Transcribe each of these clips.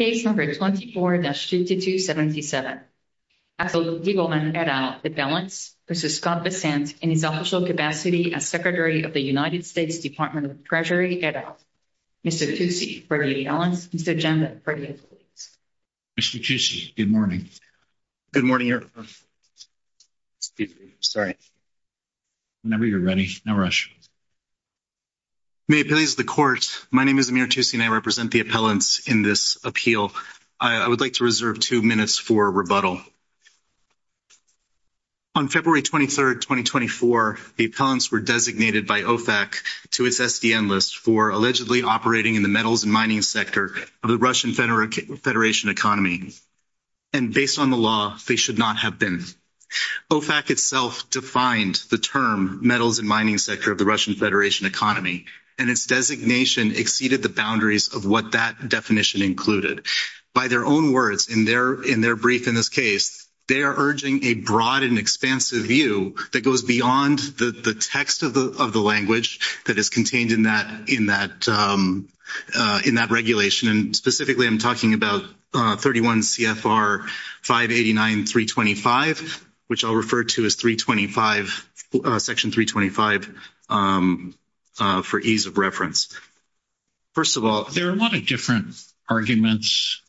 Mr. Tucci, good morning. Good morning, Your Honor, excuse me, I'm sorry. Whenever you're ready, no rush. May it please the Court, my name is Amir Tucci and I represent the appellants in this appeal. I would like to reserve two minutes for rebuttal. On February 23, 2024, the appellants were designated by OFAC to its SDN list for allegedly operating in the metals and mining sector of the Russian Federation economy, and based on the law, they should not have been. OFAC itself defined the term metals and mining sector of the Russian included. By their own words, in their brief in this case, they are urging a broad and expansive view that goes beyond the text of the language that is contained in that regulation and specifically, I'm talking about 31 CFR 589.325, which I'll refer to as 325, Section 325 for ease of reference. First of all, there are a lot of different arguments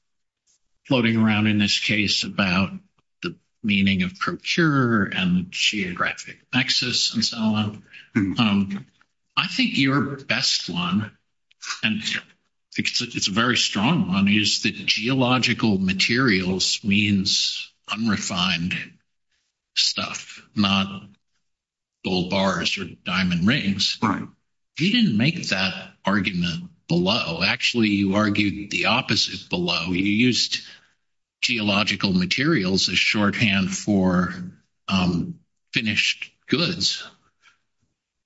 floating around in this case about the meaning of procure and geographic access and so on. I think your best one, and it's a very strong one, is that geological materials means unrefined stuff, not bull bars or diamond rings. You didn't make that argument below. Actually, you argued the opposite below. You used geological materials as shorthand for finished goods.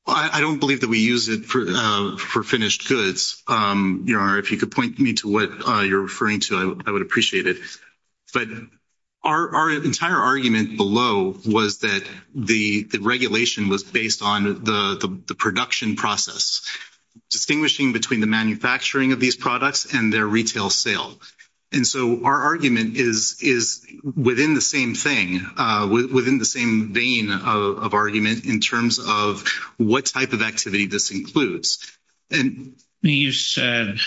I don't believe that we use it for finished goods. If you could point me to what you're referring to, I would appreciate it. Our entire argument below was that the regulation was based on the production process, distinguishing between the manufacturing of these products and their retail sale. Our argument is within the same thing, within the same vein of argument in terms of what type of this includes. You said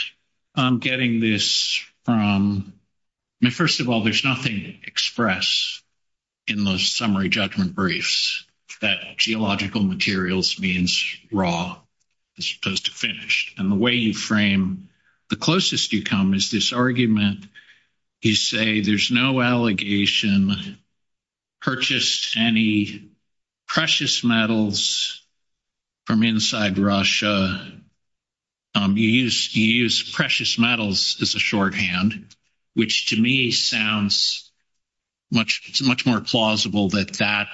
I'm getting this from, first of all, there's nothing to express in the summary judgment briefs that geological materials means raw as opposed to finished. The way you frame the closest you come is this argument. You say there's no allegation purchased any precious metals from inside Russia. You use precious metals as a shorthand, which to me sounds much more plausible that that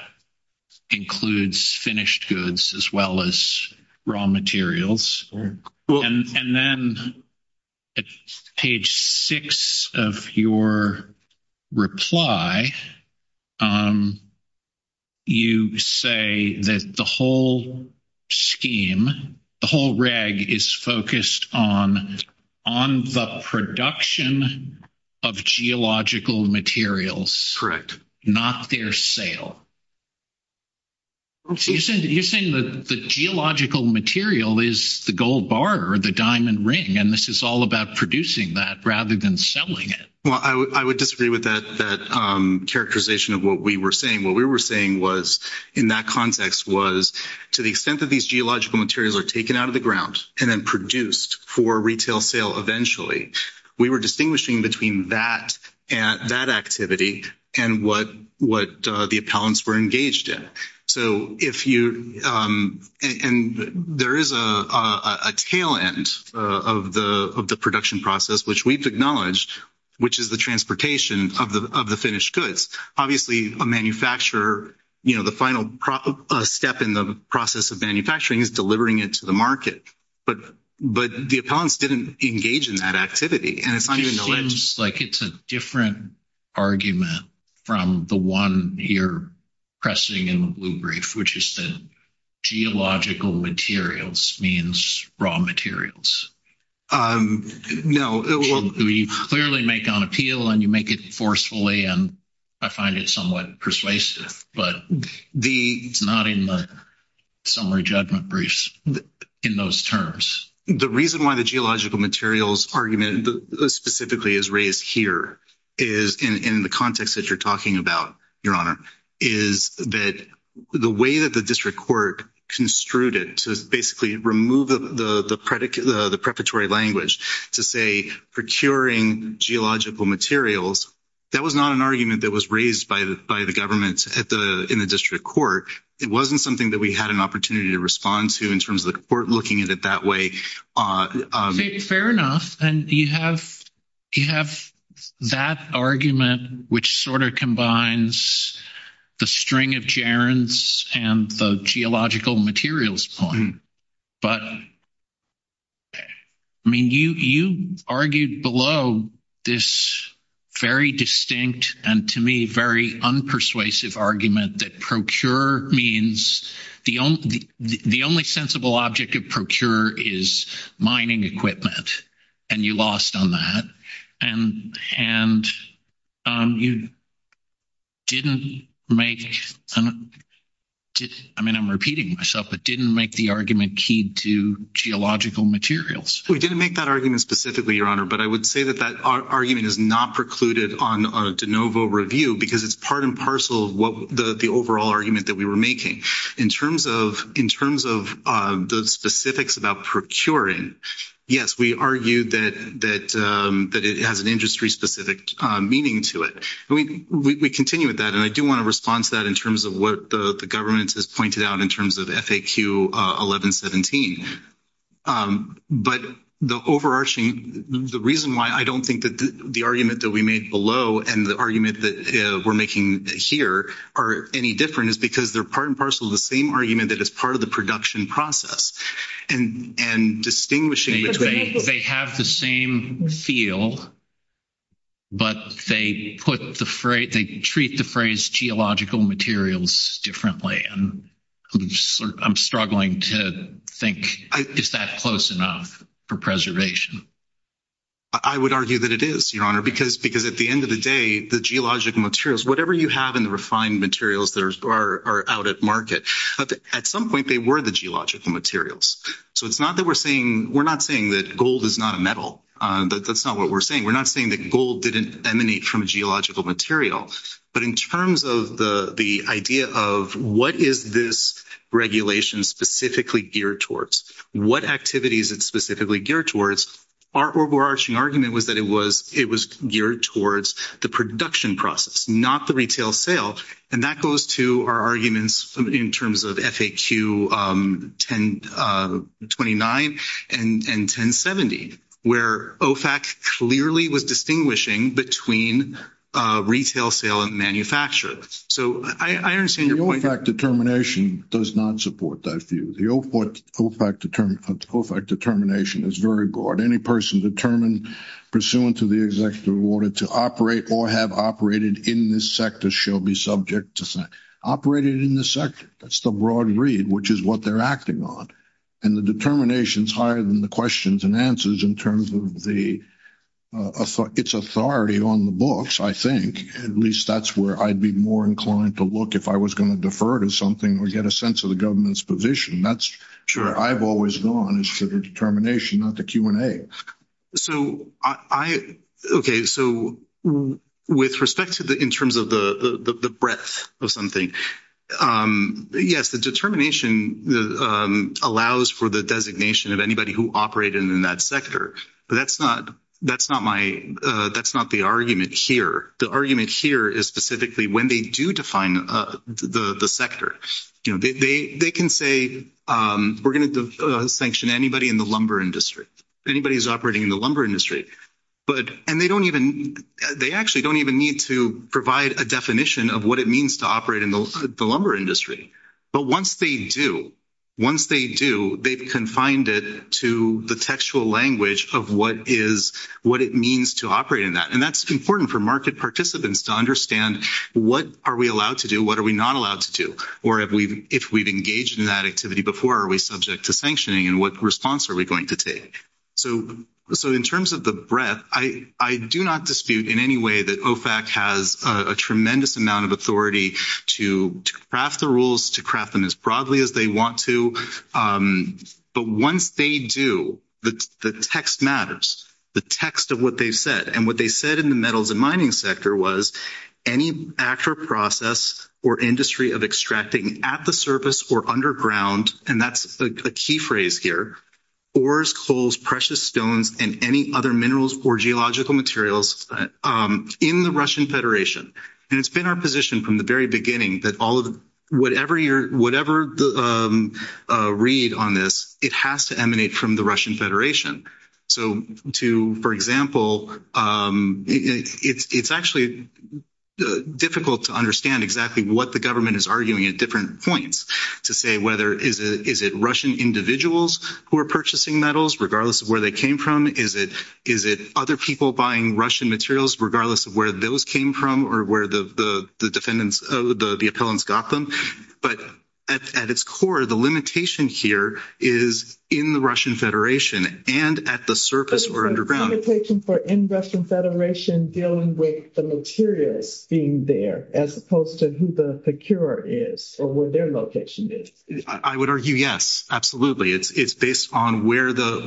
includes finished goods as well as raw materials. And then at page six of your reply, you say that the whole scheme, the whole reg is focused on the production of geological materials, not their sale. So you're saying that the geological material is the gold bar or the diamond ring, and this is all about producing that rather than selling it. Well, I would disagree with that characterization of what we were saying. What we were saying was in that context was to the extent that these geological materials are taken out of the ground and then produced for retail sale eventually, we were distinguishing between that activity and what the appellants were engaged in. And there is a tail end of the production process, which we've acknowledged, which is the transportation of the finished goods. Obviously, a manufacturer, the final step in the process of manufacturing is delivering it to the market. But the appellants didn't engage in that activity. It seems like it's a different argument from the one you're pressing in the blue brief, which is that geological materials means raw materials. You clearly make an appeal and you make it forcefully, and I find it somewhat persuasive, but it's not in the summary judgment briefs in those terms. The reason why the geological materials argument specifically is raised here is in the context that you're talking about, Your Honor, is that the way that the district court construed it to basically remove the preparatory language to say procuring geological materials, that was not an argument that was raised by the government in the district court. It wasn't something that we had an opportunity to respond to in terms of the court looking at it that way. Fair enough. And you have that argument, which sort of combines the string of gerunds and the geological materials point. But, I mean, you argued below this very distinct and, to me, very unpersuasive argument that procure means the only sensible object of procure is mining equipment, and you lost on that. And you didn't make, I mean, I'm repeating myself, but didn't make the argument keyed to geological materials. We didn't make that argument specifically, Your Honor, but I would say that that argument is not precluded on a de novo review because it's part and parcel of the overall argument that we were making. In terms of those specifics about procuring, yes, we argued that it has an industry-specific meaning to it. We continue with that, and I do want to respond to that in terms of what the government has pointed out in terms of FAQ 1117. But the overarching, the reason why I don't think that the argument that we made below and the argument that we're making here are any different is because they're part and parcel of the same argument that is part of the production process. And distinguishing between... They have the same feel, but they put the phrase, treat the phrase geological materials differently, and I'm struggling to think, is that close enough for preservation? I would argue that it is, Your Honor, because at the end of the day, the geological materials, whatever you have in the refined materials that are out at market, at some point they were the geological materials. So it's not that we're saying, we're not saying that gold is not a metal. That's not what we're saying. We're not saying that gold didn't emanate from a geological material. But in terms of the idea of what is this regulation specifically geared towards, what activities it's specifically geared towards, our overarching argument was that it was geared towards the production process, not the retail sale. And that goes to our arguments in terms of FAQ 1029 and 1070, where OFAC clearly was distinguishing between retail sale and manufacture. So I understand your point. The OFAC determination does not support that view. The OFAC determination is very broad. Any person determined pursuant to the executive order to operate or have operated in this sector shall be subject to... Operated in this sector. That's the broad read, which is what they're acting on. And the determination's higher than the questions and answers in terms of its authority on the books, I think. At least that's where I'd be more inclined to look if I was going to defer to something or get a sense of the government's position. That's where I've always gone, is to the determination, not the Q&A. Okay. So with respect to the, in terms of the designation of anybody who operated in that sector, but that's not my... That's not the argument here. The argument here is specifically when they do define the sector. They can say, we're going to sanction anybody in the lumber industry, anybody who's operating in the lumber industry. And they actually don't even need to provide a definition of what it means to operate the lumber industry. But once they do, once they do, they've confined it to the textual language of what it means to operate in that. And that's important for market participants to understand what are we allowed to do? What are we not allowed to do? Or if we've engaged in that activity before, are we subject to sanctioning? And what response are we going to take? So in terms of the breadth, I do not dispute in any way that OFAC has a tremendous amount of craft the rules, to craft them as broadly as they want to. But once they do, the text matters, the text of what they've said. And what they said in the metals and mining sector was, any actual process or industry of extracting at the surface or underground, and that's a key phrase here, ores, coals, precious stones, and any other minerals or geological materials in the Russian Federation. And it's been our position from the very beginning that all of whatever read on this, it has to emanate from the Russian Federation. So to, for example, it's actually difficult to understand exactly what the government is arguing at different points to say whether, is it Russian individuals who are purchasing metals regardless of where they came from? Is it other people buying Russian materials regardless of where those came from or where the defendants, the appellants got them? But at its core, the limitation here is in the Russian Federation and at the surface or underground. But it's a limitation for in Russian Federation dealing with the materials being there, as opposed to who the procurer is or where their location is. I would argue, yes, absolutely. It's based on where the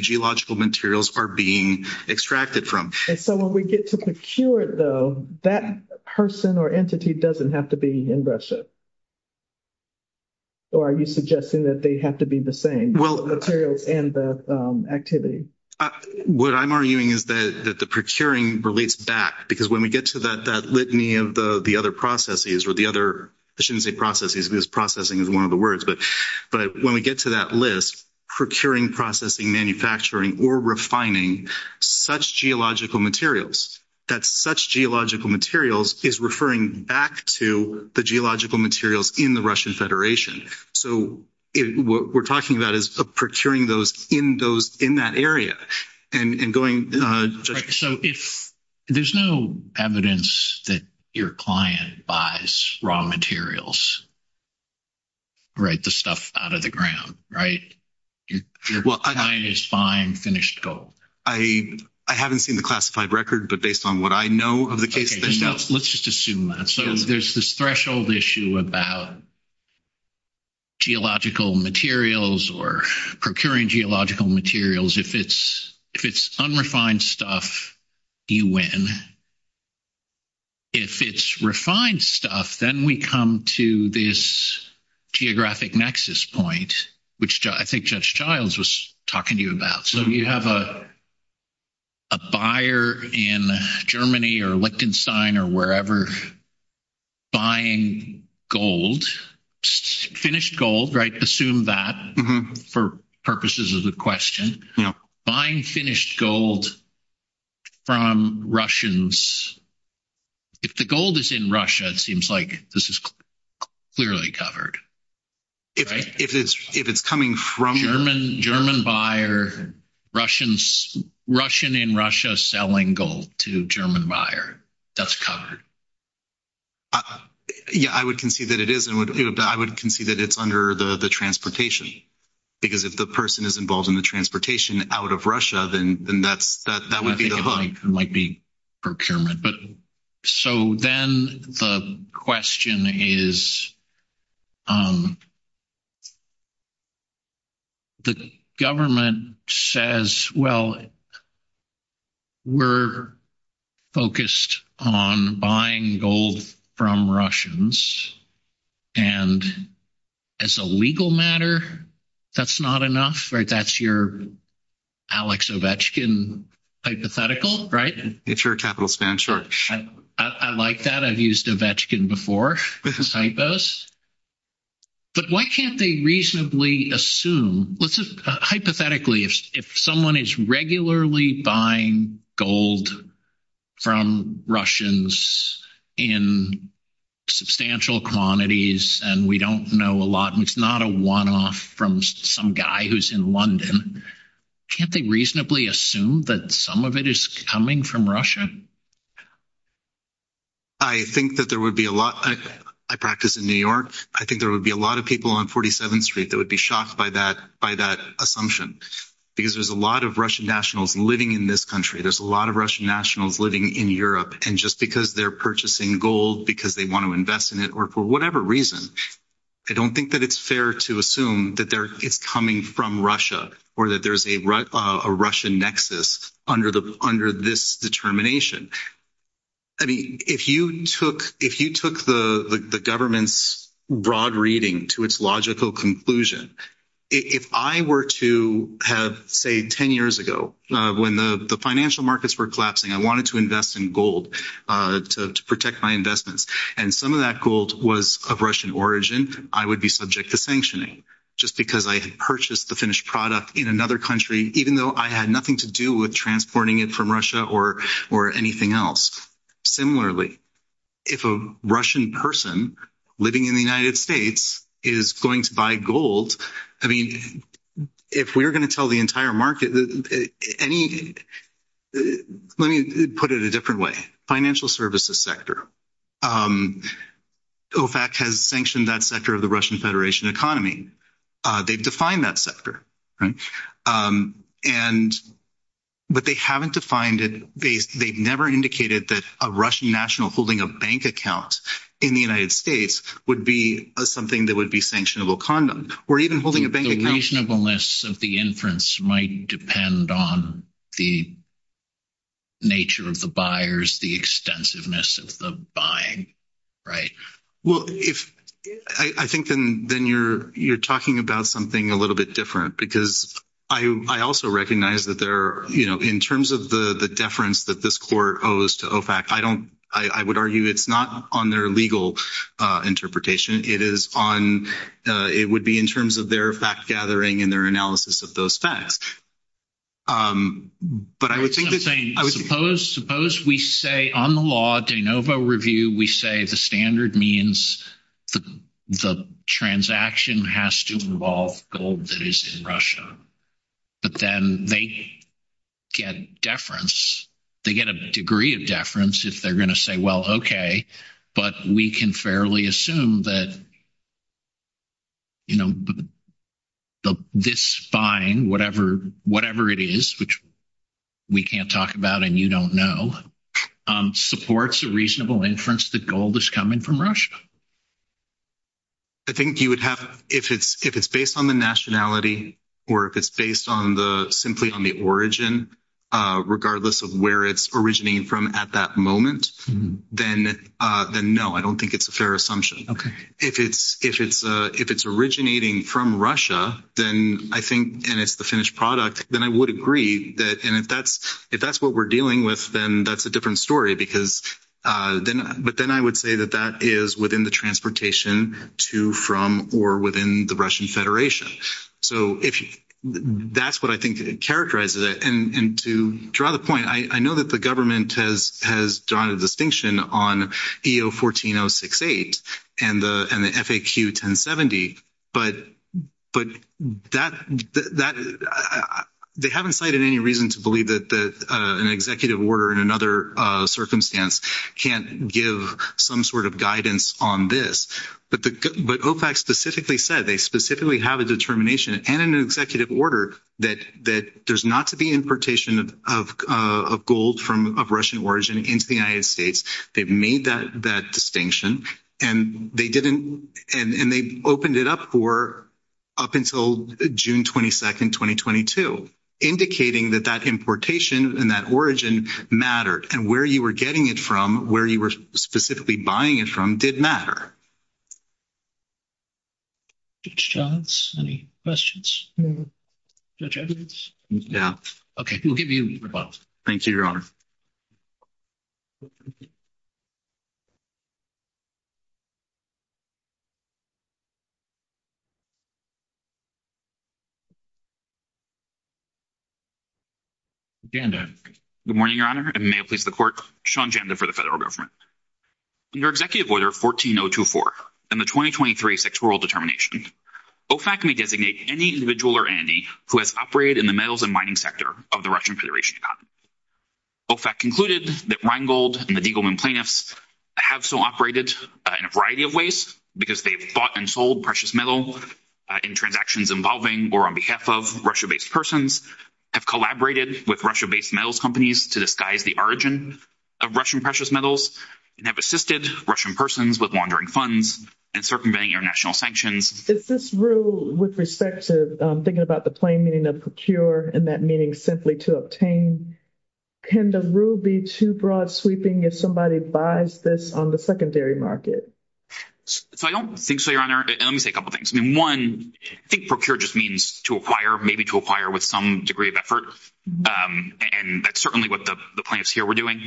geological materials are being extracted from. And so when we get to procure it, though, that person or entity doesn't have to be in Russia? Or are you suggesting that they have to be the same, the materials and the activity? What I'm arguing is that the procuring relates back, because when we get to that litany of the other processes or the other, I shouldn't say processes, because processing is one of the words, but when we get to that list, procuring, processing, manufacturing, or refining such geological materials, that such geological materials is referring back to the geological materials in the Russian Federation. So what we're talking about is procuring those in those, in that area and going... So if there's no evidence that your client buys raw materials, right, the stuff out of the ground, right? Your client is buying finished gold. I haven't seen the classified record, but based on what I know of the case... Let's just assume that. So there's this threshold issue about geological materials or procuring geological materials. If it's unrefined stuff, you win. If it's refined stuff, then we come to this geographic nexus point, which I think Judge Childs was talking to you about. So you have a buyer in Germany or Lichtenstein or wherever buying gold, finished gold, right? Assume that for purposes of the question. Buying finished gold from Russians. If the gold is in Russia, it seems like this is clearly covered. If it's coming from... German buyer, Russian in Russia selling gold to German buyer, that's covered. Yeah, I would concede that it is. I would concede that it's under the transportation, because if the person is involved in the transportation out of Russia, then that would might be procurement. But so then the question is, the government says, well, we're focused on buying gold from Russians. And as a legal matter, that's not enough, right? That's your Alex Ovechkin hypothetical, right? If you're a capitalist man, sure. I like that. I've used Ovechkin before as hypos. But why can't they reasonably assume... I think that there would be a lot... I practice in New York. I think there would be a lot of people on 47th Street that would be shocked by that assumption. Because there's a lot of Russian nationals living in this country. There's a lot of Russian nationals living in Europe. And just they're purchasing gold because they want to invest in it or for whatever reason. I don't think that it's fair to assume that it's coming from Russia or that there's a Russian nexus under this determination. I mean, if you took the government's broad reading to its logical conclusion, if I were to have, say, 10 years ago, when the financial markets were collapsing, I wanted to invest in gold to protect my investments. And some of that gold was of Russian origin, I would be subject to sanctioning just because I had purchased the finished product in another country, even though I had nothing to do with transporting it from Russia or anything else. Similarly, if a Russian person living in the United States is going to buy gold, I mean, if we're going to tell the entire market, let me put it a different way. Financial services sector. OFAC has sanctioned that sector of the Russian Federation economy. They've defined that sector. But they haven't defined it. They've never indicated that a Russian national holding a bank account in the United States would be something that would be sanctionable conduct or even holding a bank account. The reasonableness of the inference might depend on the nature of the buyers, the extensiveness of the buying, right? Well, I think then you're talking about something a little bit different because I also recognize that in terms of the deference that this court owes to OFAC, I would argue it's not on their legal interpretation. It would be in terms of their fact-gathering and their analysis of those facts. But I would think that— I'm saying, suppose we say on the law, de novo review, we say the standard means the transaction has to involve gold that is in Russia. But then they get deference. They get a degree of deference if they're going to say, well, okay, but we can fairly assume that, you know, this buying, whatever it is, which we can't talk about and you don't know, supports a reasonable inference that gold is coming from Russia. I think you would have—if it's based on the nationality or if it's based on the—simply on the origin, regardless of where it's originating from at that moment, then no, I don't think it's a fair assumption. If it's originating from Russia, then I think—and it's the finished product—then I would agree that—and if that's what we're dealing with, then that's a different story because—but then I would say that that is within the transportation to, from, or within the Russian Federation. So that's what I think characterizes it. And to draw the point, I know that the government has drawn a distinction on EO-14068 and the FAQ-1070, but that—they haven't cited any reason to believe that an executive order in another circumstance can't give some sort of guidance on this. But OFAC specifically said, they specifically have a determination and an executive order that there's not to be importation of gold from—of Russian origin into the United States. They've made that distinction, and they didn't—and they opened it up for—up until June 22nd, 2022, indicating that that importation and that origin mattered, and where you were getting it from, where you were specifically buying it did matter. Judge Johns, any questions? Judge Evans? Yeah. Okay, we'll give you a moment. Thank you, Your Honor. Janda. Good morning, Your Honor, and may it please the Court, Sean Janda for the Federal Government. Under Executive Order 14-024 and the 2023 Sectoral Determination, OFAC may designate any individual or entity who has operated in the metals and mining sector of the Russian Federation economy. OFAC concluded that Rheingold and the Diegelman plaintiffs have so operated in a variety of ways because they've bought and sold precious metal in transactions involving or on behalf of Russia-based persons, have collaborated with Russia-based metals companies to disguise the origin of Russian precious metals, and have assisted Russian persons with laundering funds and circumventing international sanctions. Is this rule, with respect to thinking about the plain meaning of procure and that meaning simply to obtain, can the rule be too broad-sweeping if somebody buys this on the secondary market? So I don't think so, Your Honor. Let me say a couple things. I mean, one, I think procure just means to acquire, maybe to acquire with some degree of effort, and that's certainly what the plaintiffs here were doing.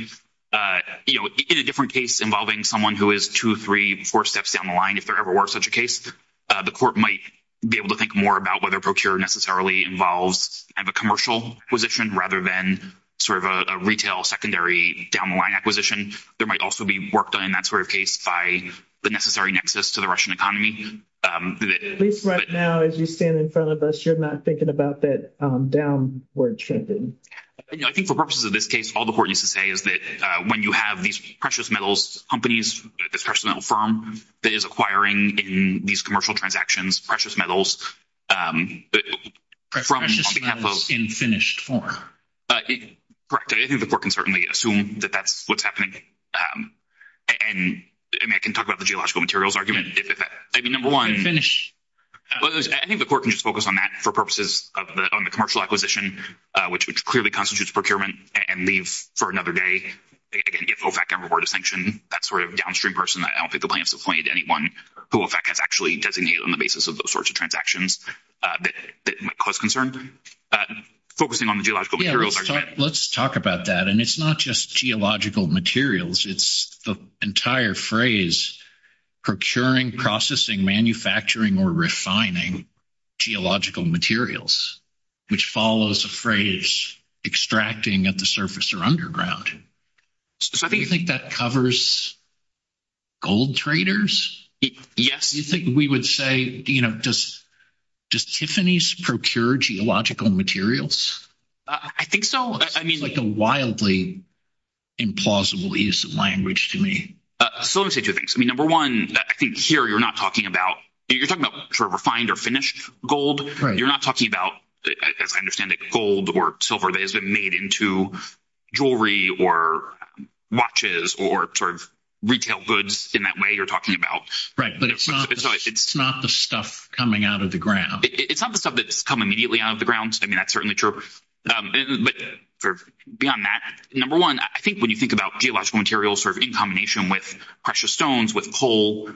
You know, in a different case involving someone who is two, three, four steps down the line, if there ever were such a case, the court might be able to think more about whether procure necessarily involves a commercial acquisition rather than sort of a retail secondary down-the-line acquisition. There might also be work done in that sort of case by the necessary nexus to the Russian economy. At least right now, as you stand in front of us, you're not thinking about that downward-shifting. I think for purposes of this case, all the court needs to say is that when you have these precious metals companies, this precious metal firm that is acquiring in these commercial transactions precious metals on behalf of— Precious metals in finished form. Correct. I think the court can certainly assume that that's what's happening. And, I mean, I can talk about the geological materials argument. I mean, number one— Finish. I think the court can just focus on that for purposes of the—on the commercial acquisition, which clearly constitutes procurement and leave for another day. Again, if OFAC can reward a sanction, that sort of downstream person, I don't think the plaintiffs have pointed to anyone who OFAC has actually designated on the basis of those sorts of transactions that might cause concern. Focusing on the geological materials argument— Let's talk about that, and it's not just geological materials. It's the entire phrase procuring, processing, manufacturing, or refining geological materials, which follows a phrase extracting at the surface or underground. Do you think that covers gold traders? Yes. Do you think we would say, you know, does Tiffany's procure geological materials? I think so. I mean— It's like a wildly implausible use of language to me. So let me say two things. I mean, number one, I think here you're not talking about—you're talking about sort of refined or finished gold. You're not talking about, as I understand it, gold or silver that has been made into jewelry or watches or sort of retail goods in that way you're talking about. Right, but it's not the stuff coming out of the ground. It's not the stuff that's come immediately out of the ground. I mean, that's certainly true. But beyond that, number one, I think when you think about geological materials sort of in combination with precious stones, with coal,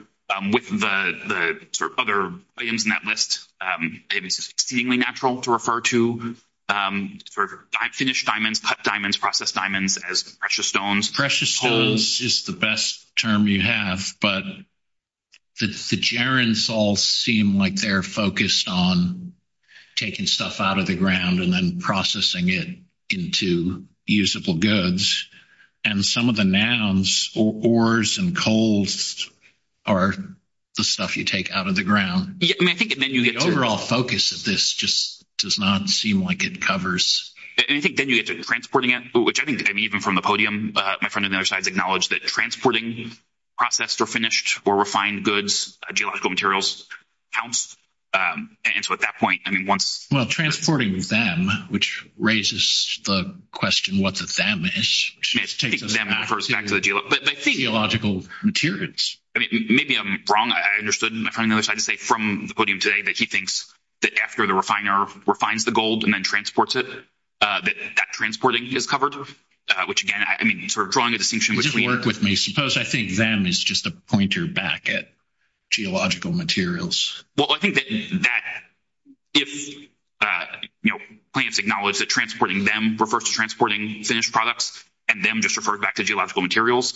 with the sort of other items in that list, it's seemingly natural to refer to finished diamonds, cut diamonds, processed diamonds as precious stones. Precious stones is the best term you have, but the gerunds all seem like they're focused on taking stuff out of the ground and then processing it into usable goods. And some of the nouns, ores and coals, are the stuff you take out of the ground. I mean, I think then you get to— The overall focus of this just does not seem like it covers— And I think then you get to transporting it, which I think, I mean, even from the podium, my friend on the other side has acknowledged that transporting processed or finished or refined goods, geological materials, counts. And so at that point, I mean, once— Well, transporting them, which raises the question what the them is, just takes us back to the geological materials. I mean, maybe I'm wrong. I understood my friend on the other side to say from the podium today that he thinks that after the refiner refines the gold and then transports it, that that is covered, which, again, I mean, sort of drawing a distinction between— Would you work with me? Suppose I think them is just a pointer back at geological materials. Well, I think that if plants acknowledge that transporting them refers to transporting finished products and them just refers back to geological materials,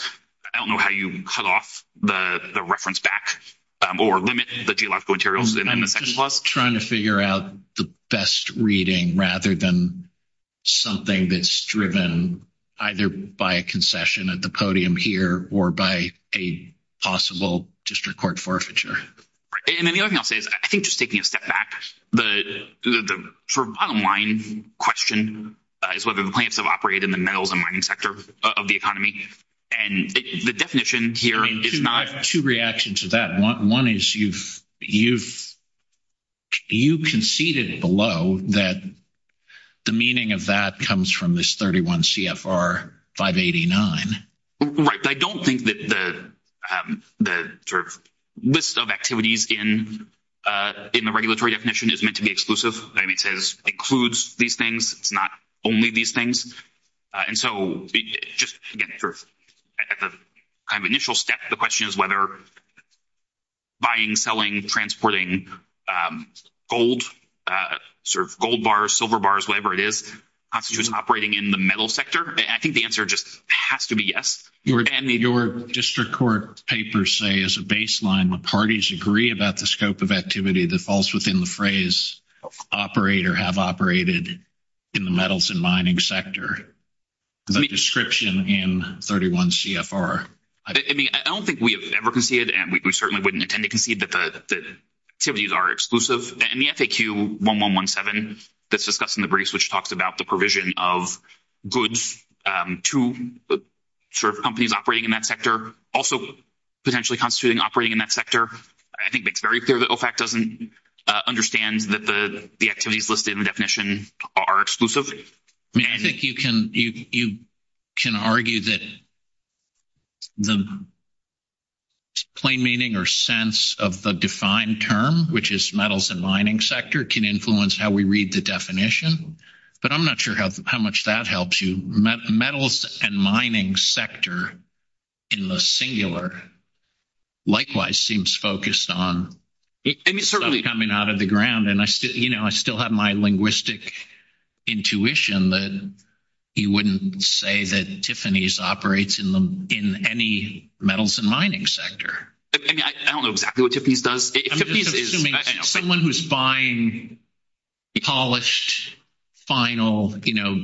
I don't know how you cut off the reference back or limit the geological materials in the section. Trying to figure out the best reading rather than something that's driven either by a concession at the podium here or by a possible district court forfeiture. And then the other thing I'll say is I think just taking a step back, the sort of bottom line question is whether the plants have operated in the metals and mining sector of the economy. And the definition here is not— I have two reactions to that. One is you've conceded below that the meaning of that comes from this 31 CFR 589. Right. I don't think that the sort of list of activities in the regulatory definition is meant to be exclusive. It includes these things. It's not only these things. And so just, again, sort of at the kind of initial step, the question is whether buying, selling, transporting gold, sort of gold bars, silver bars, whatever it is, constitutes operating in the metal sector. I think the answer just has to be yes. Your district court papers say as a baseline the parties agree about the scope of activity that falls within the phrase operate or have operated in the metals and mining sector. The description in 31 CFR— I mean, I don't think we have ever conceded, and we certainly wouldn't intend to concede that the activities are exclusive. And the FAQ 1117 that's discussed in the briefs, which talks about the provision of goods to sort of companies operating in that sector, also potentially constituting operating in that sector, I think makes very clear that OFAC doesn't understand that the activities listed in the definition are exclusive. I mean, I think you can argue that the plain meaning or sense of the defined term, which is metals and mining sector, can influence how we read the definition. But I'm not sure how much that helps you. Metals and mining sector in the singular likewise seems focused on coming out of the ground. And I still have my linguistic intuition that you wouldn't say that Tiffany's operates in any metals and mining sector. I don't know exactly what Tiffany's does. I'm just assuming someone who's buying polished, final, you know,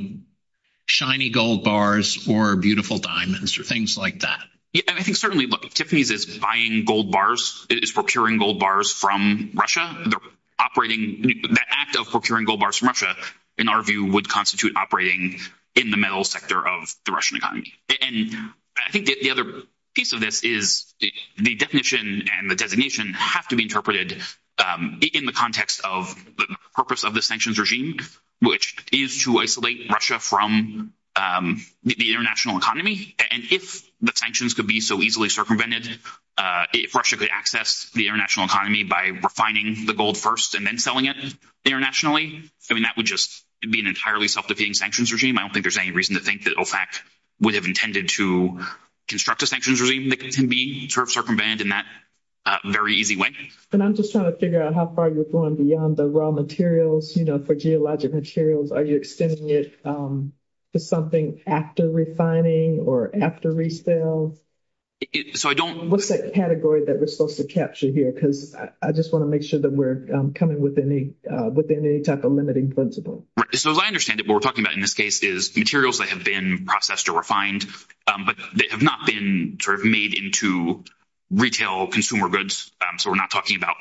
shiny gold bars or beautiful diamonds or things like that. Yeah. And I think certainly, look, if Tiffany's is buying gold bars, is procuring gold bars from Russia, operating—the act of procuring gold bars from Russia, in our view, would constitute operating in the metals sector of the Russian economy. And I think the other piece of this is the definition and the designation have to be interpreted in the context of the purpose of the sanctions regime, which is to isolate Russia from the international economy. And if the sanctions could be so easily circumvented, if Russia could access the international economy by refining the gold first and then selling it internationally, I mean, that would just be an entirely self-defeating sanctions regime. I don't think there's any reason to think that OFAC would have intended to construct a sanctions that can be sort of circumvented in that very easy way. And I'm just trying to figure out how far you're going beyond the raw materials, you know, for geologic materials. Are you extending it to something after refining or after resale? So, I don't— What's that category that we're supposed to capture here? Because I just want to make sure that we're coming within any type of limiting principle. So, as I understand it, what we're talking about in this case is materials that have been processed or refined, but they have not been sort of made into retail consumer goods. So, we're not talking about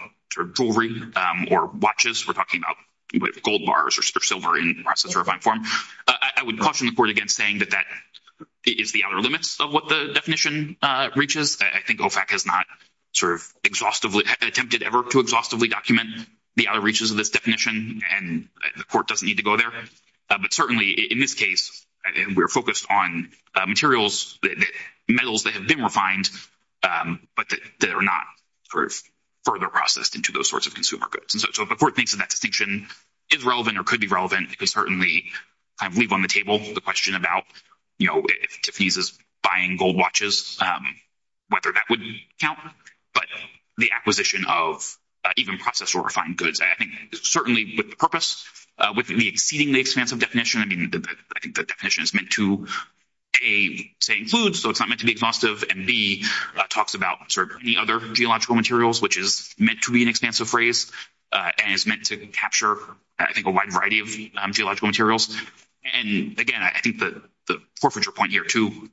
jewelry or watches. We're talking about gold bars or silver in processed or refined form. I would caution the court against saying that that is the outer limits of what the definition reaches. I think OFAC has not sort of exhaustively—attempted ever to exhaustively document the outer reaches of this definition, and the court doesn't need to go there. But certainly, in this case, we're focused on materials—metals that have been refined, but that are not further processed into those sorts of consumer goods. And so, if the court thinks that that distinction is relevant or could be relevant, it could certainly kind of leave on the table the question about, you know, if Tiffany's is buying gold watches, whether that would count. But the acquisition of even processed or refined goods, I think certainly with the purpose, with the exceedingly expansive definition, I mean, I think the definition is meant to, A, say includes, so it's not meant to be exhaustive, and B, talks about sort of any other geological materials, which is meant to be an expansive phrase and is meant to capture, I think, a wide variety of geological materials. And again, I think the forfeiture point here, too,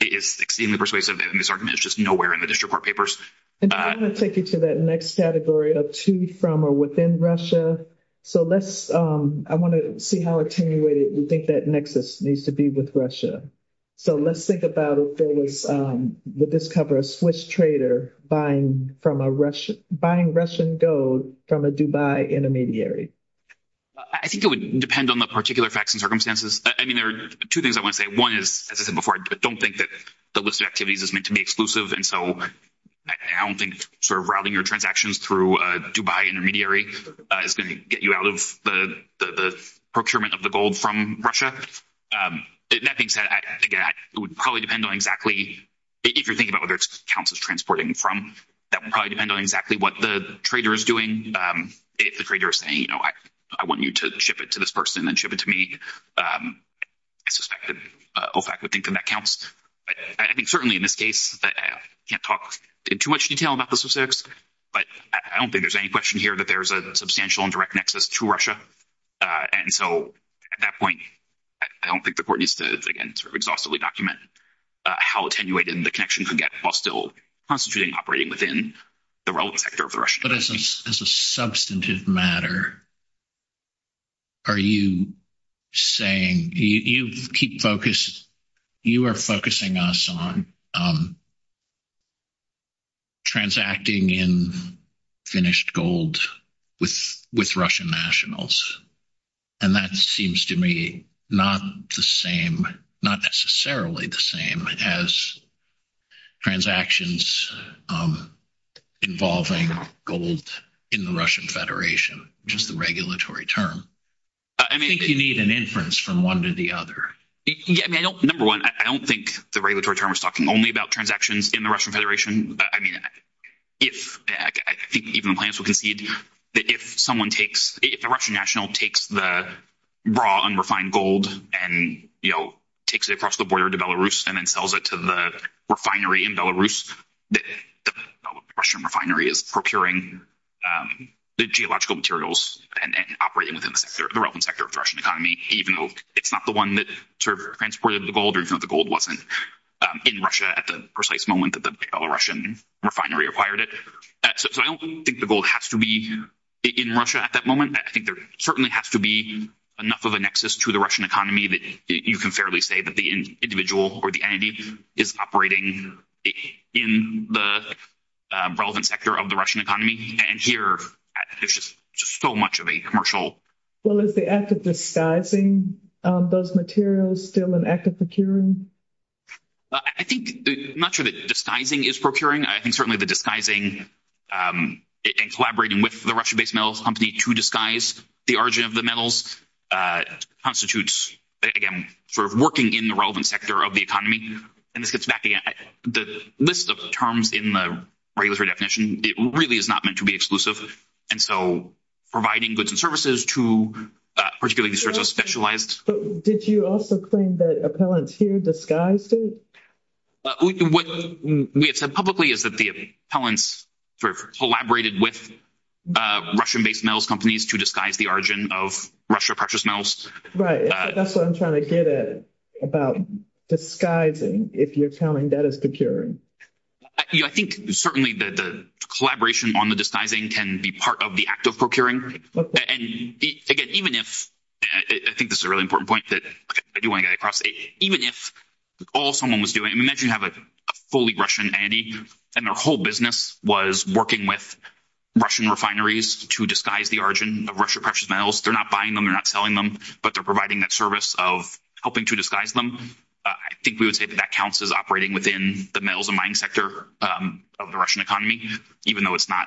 is exceedingly persuasive in this argument. It's just nowhere in the district court papers. And I'm going to take you to that next category of to, from, or within Russia. So, let's—I want to see how attenuated you think that nexus needs to be with Russia. So, let's think about if there was—would this cover a Swiss trader buying Russian gold from a Dubai intermediary? I think it would depend on the particular facts and circumstances. I mean, there are two things I want to say. One is, as I said before, I don't think that the list of activities is meant to be exclusive, and so I don't think sort of routing your transactions through a Dubai intermediary is going to get you out of the procurement of the gold from Russia. That being said, again, it would probably depend on exactly—if you're thinking about whether it counts as transporting from, that would probably depend on exactly what the trader is doing. If the trader is saying, you know, I want you to ship it to this person and then ship it to me, I suspect that OFAC would think that that counts. I think certainly in this case, I can't talk in too much detail about the specifics, but I don't think there's any question here that there's a substantial and direct nexus to Russia. And so, at that point, I don't think the court needs to, again, sort of exhaustively document how attenuated the connection could get while still constituting and operating within the relevant sector of the Russian economy. As a substantive matter, are you saying—you keep focus—you are focusing us on transacting in finished gold with Russian nationals, and that seems to me not the same, not necessarily the same, as transactions involving gold in the Russian Federation, which is the regulatory term? I think you need an inference from one to the other. Yeah, I mean, number one, I don't think the regulatory term is talking only about transactions in the Russian Federation. I mean, if—I think even the plaintiffs would concede that if someone takes—if a Russian national takes the raw, unrefined gold and, you know, takes it across the border to Belarus and then sells it to the refinery in Belarus, that the Russian refinery is procuring the geological materials and operating within the relevant sector of the Russian economy, even though it's not the one that sort of transported the gold or even though the gold wasn't in Russia at the precise moment that the Russian refinery acquired it. So I don't think the gold has to be in Russia at that moment. I think there certainly has to be enough of a nexus to the Russian economy that you can fairly say that the individual or the entity is operating in the relevant sector of the Russian economy, and here there's just so much of a commercial— Well, is the act of disguising those materials still an act of procuring? I think—I'm not sure that disguising is procuring. I think certainly the disguising and collaborating with the Russian-based metals company to disguise the origin of the metals constitutes, again, sort of working in the relevant sector of the economy. And this gets back again—the list of terms in the regulatory definition, it really is not meant to be exclusive, and so providing goods and services to particularly these sorts of specialized— Did you also claim that appellants here disguised it? What we have said publicly is that the appellants sort of collaborated with Russian-based metals companies to disguise the origin of Russia-purchased metals. Right. That's what I'm trying to get at about disguising, if you're telling that it's procuring. I think certainly the collaboration on the disguising can be part of the act of procuring, and again, even if—I think this is a really important point that I do want to get across. Even if all someone was doing—I mean, imagine you have a fully Russian entity, and their whole business was working with Russian refineries to disguise the origin of Russia-purchased metals. They're not buying them, they're not selling them, but they're providing that service of helping to disguise them. I think we would say that that counts as operating within the metals and mining sector of the Russian economy, even though it's not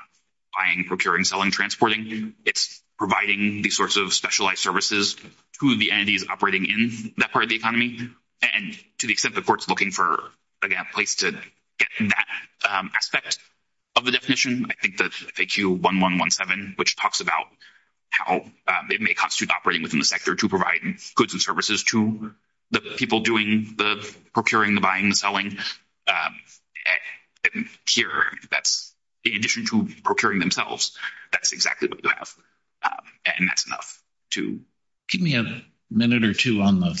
buying, procuring, selling, transporting. It's providing these sorts of specialized services to the entities operating in that part of the economy. And to the extent the court's looking for, again, a place to get that aspect of the definition, I think the FAQ 1117, which talks about how it may constitute operating within the sector to provide goods and services to the people doing the procuring, the buying, the selling. Here, in addition to procuring themselves, that's exactly what you have, and that's enough to— Give me a minute or two on the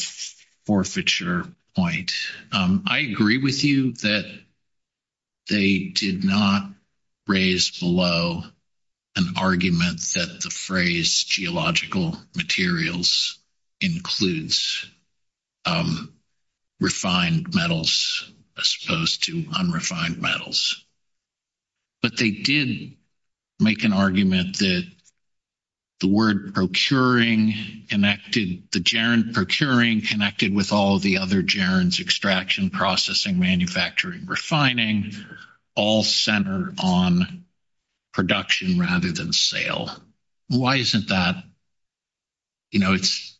forfeiture point. I agree with you that they did not raise below an argument that the phrase geological materials includes refined metals as opposed to unrefined metals. But they did make an argument that the word procuring connected—the gerund procuring connected with all the other gerunds, processing, manufacturing, refining, all centered on production rather than sale. Why isn't that—you know, it's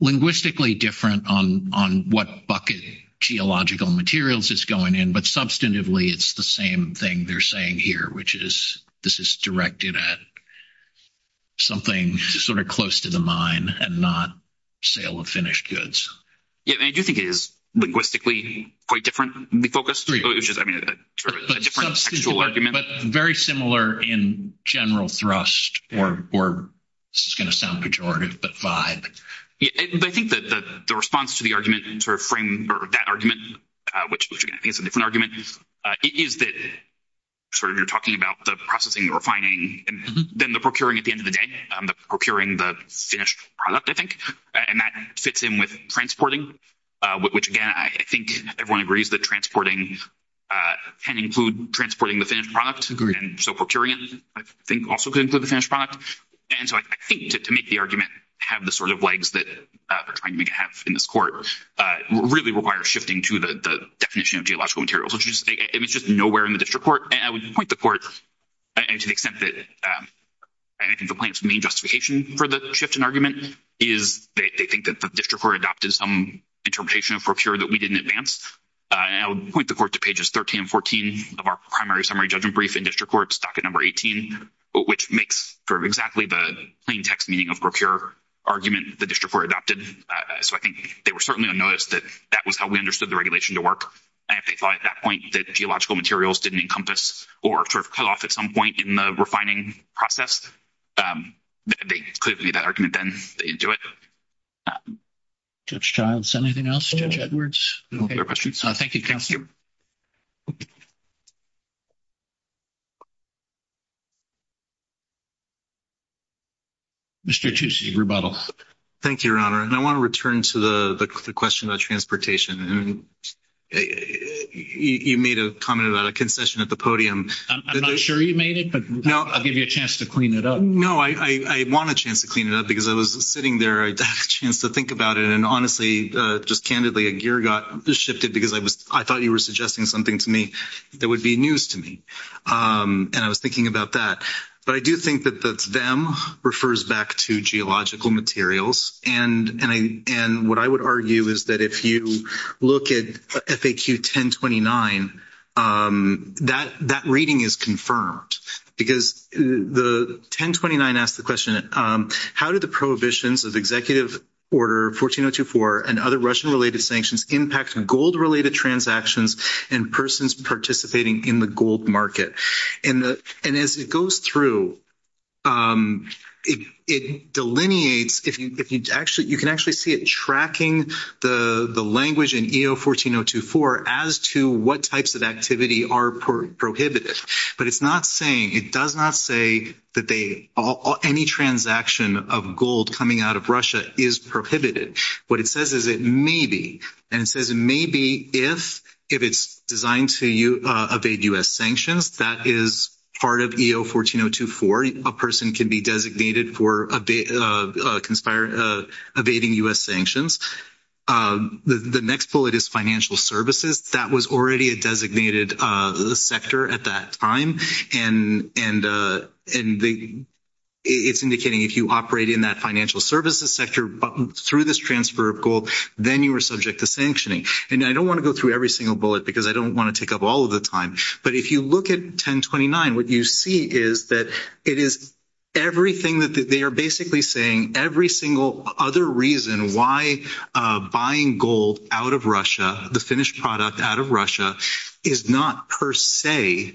linguistically different on what bucket geological materials is going in, but substantively, it's the same thing they're saying here, which is this is directed at something sort of close to the mine and not sale of finished goods. Yeah, and I do think it is linguistically quite differently focused, which is, I mean, a different textual argument. But very similar in general thrust, or this is going to sound pejorative, but vibe. Yeah, but I think that the response to the argument sort of frame—or that argument, which, again, I think is a different argument, is that sort of you're talking about the processing, the refining, and then the procuring at the end of the day, the procuring the finished product, I think. And that fits in with transporting, which, again, I think everyone agrees that transporting can include transporting the finished product, and so procuring it, I think, also could include the finished product. And so I think to make the argument have the sort of legs that they're trying to make it have in this court really requires shifting to the definition of geological materials, which is nowhere in the district court. And I would point the court to the extent that I think the plaintiff's main justification for the shift in argument is they think that the district court adopted some interpretation of procure that we didn't advance. And I would point the court to pages 13 and 14 of our primary summary judgment brief in district court, stocket number 18, which makes for exactly the plain text meaning of procure argument the district court adopted. So I think they were certainly unnoticed that that was how we understood the regulation to work. And if they thought at that point that geological materials didn't encompass or sort of cut off at some point in the refining process, they could have made that argument then. They didn't do it. Judge Childs, anything else? Judge Edwards? Thank you, counsel. Mr. Tucci, rebuttal. Thank you, Your Honor. And I want to return to the question about transportation. You made a comment about a concession at the podium. I'm not sure you made it, but I'll give you a chance to clean it up. No, I want a chance to clean it up because I was sitting there. I had a chance to think about it. And honestly, just candidly, a gear got shifted because I thought you were suggesting something to me that would be news to me. And I was thinking about that. But I do think that that's them refers back to geological materials. And what I would argue is that if you look at FAQ 1029, that reading is confirmed because the 1029 asked the question, how did the prohibitions of Executive Order 14024 and other Russian-related sanctions impact gold-related transactions and persons participating in the gold market? And as it goes through, it delineates—you can actually see it tracking the language in EO-14024 as to what types of activity are prohibited. But it's not saying—it does not say that any transaction of gold coming out of Russia is prohibited. What it says is it may be. And it may be if it's designed to evade U.S. sanctions. That is part of EO-14024. A person can be designated for evading U.S. sanctions. The next bullet is financial services. That was already a designated sector at that time. And it's indicating if you operate in that financial services sector through this transfer of gold, then you are subject to sanctioning. And I don't want to go through every single bullet because I don't want to take up all of the time. But if you look at 1029, what you see is that it is everything that—they are basically saying every single other reason why buying gold out of Russia, the finished product out of Russia, is not per se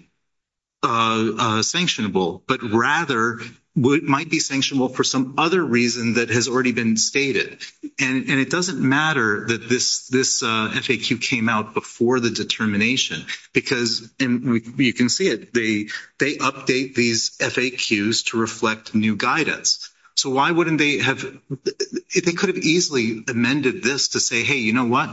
sanctionable, but rather might be sanctionable for some other reason that has already been stated. And it doesn't matter that this FAQ came out before the determination because—and you can see it—they update these FAQs to reflect new guidance. So why wouldn't they have—they could have easily amended this to say, hey, you know what?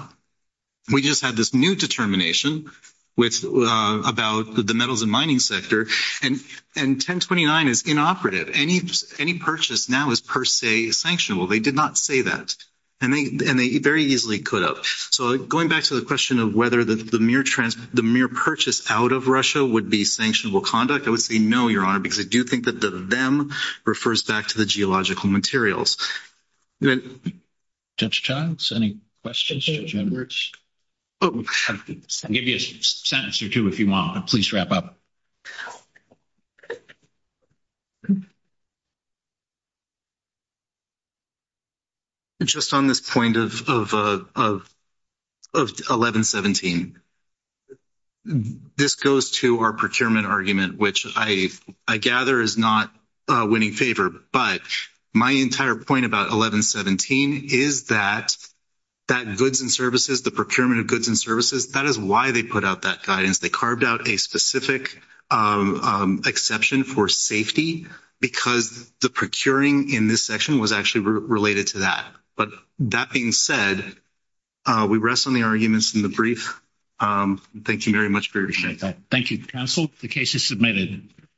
We just had this new determination about the metals and mining sector, and 1029 is inoperative. Any purchase now is per se sanctionable. They did not say that. And they very easily could have. So going back to the question of whether the mere purchase out of Russia would be sanctionable conduct, I would say no, Your Honor, because I do think that the them refers back to the geological materials. Judge Childs, any questions? Judge Edwards? I'll give you a sentence or two if you want. Please wrap up. Just on this point of 1117, this goes to our procurement argument, which I gather is not winning favor. But my entire point about 1117 is that goods and services, the procurement of goods and services, that is why they put out that guidance. They carved out a specific exception for safety because the procuring in this section was actually related to that. But that being said, we rest on the arguments in the brief. Thank you very much for your time. Thank you, counsel. The case is submitted.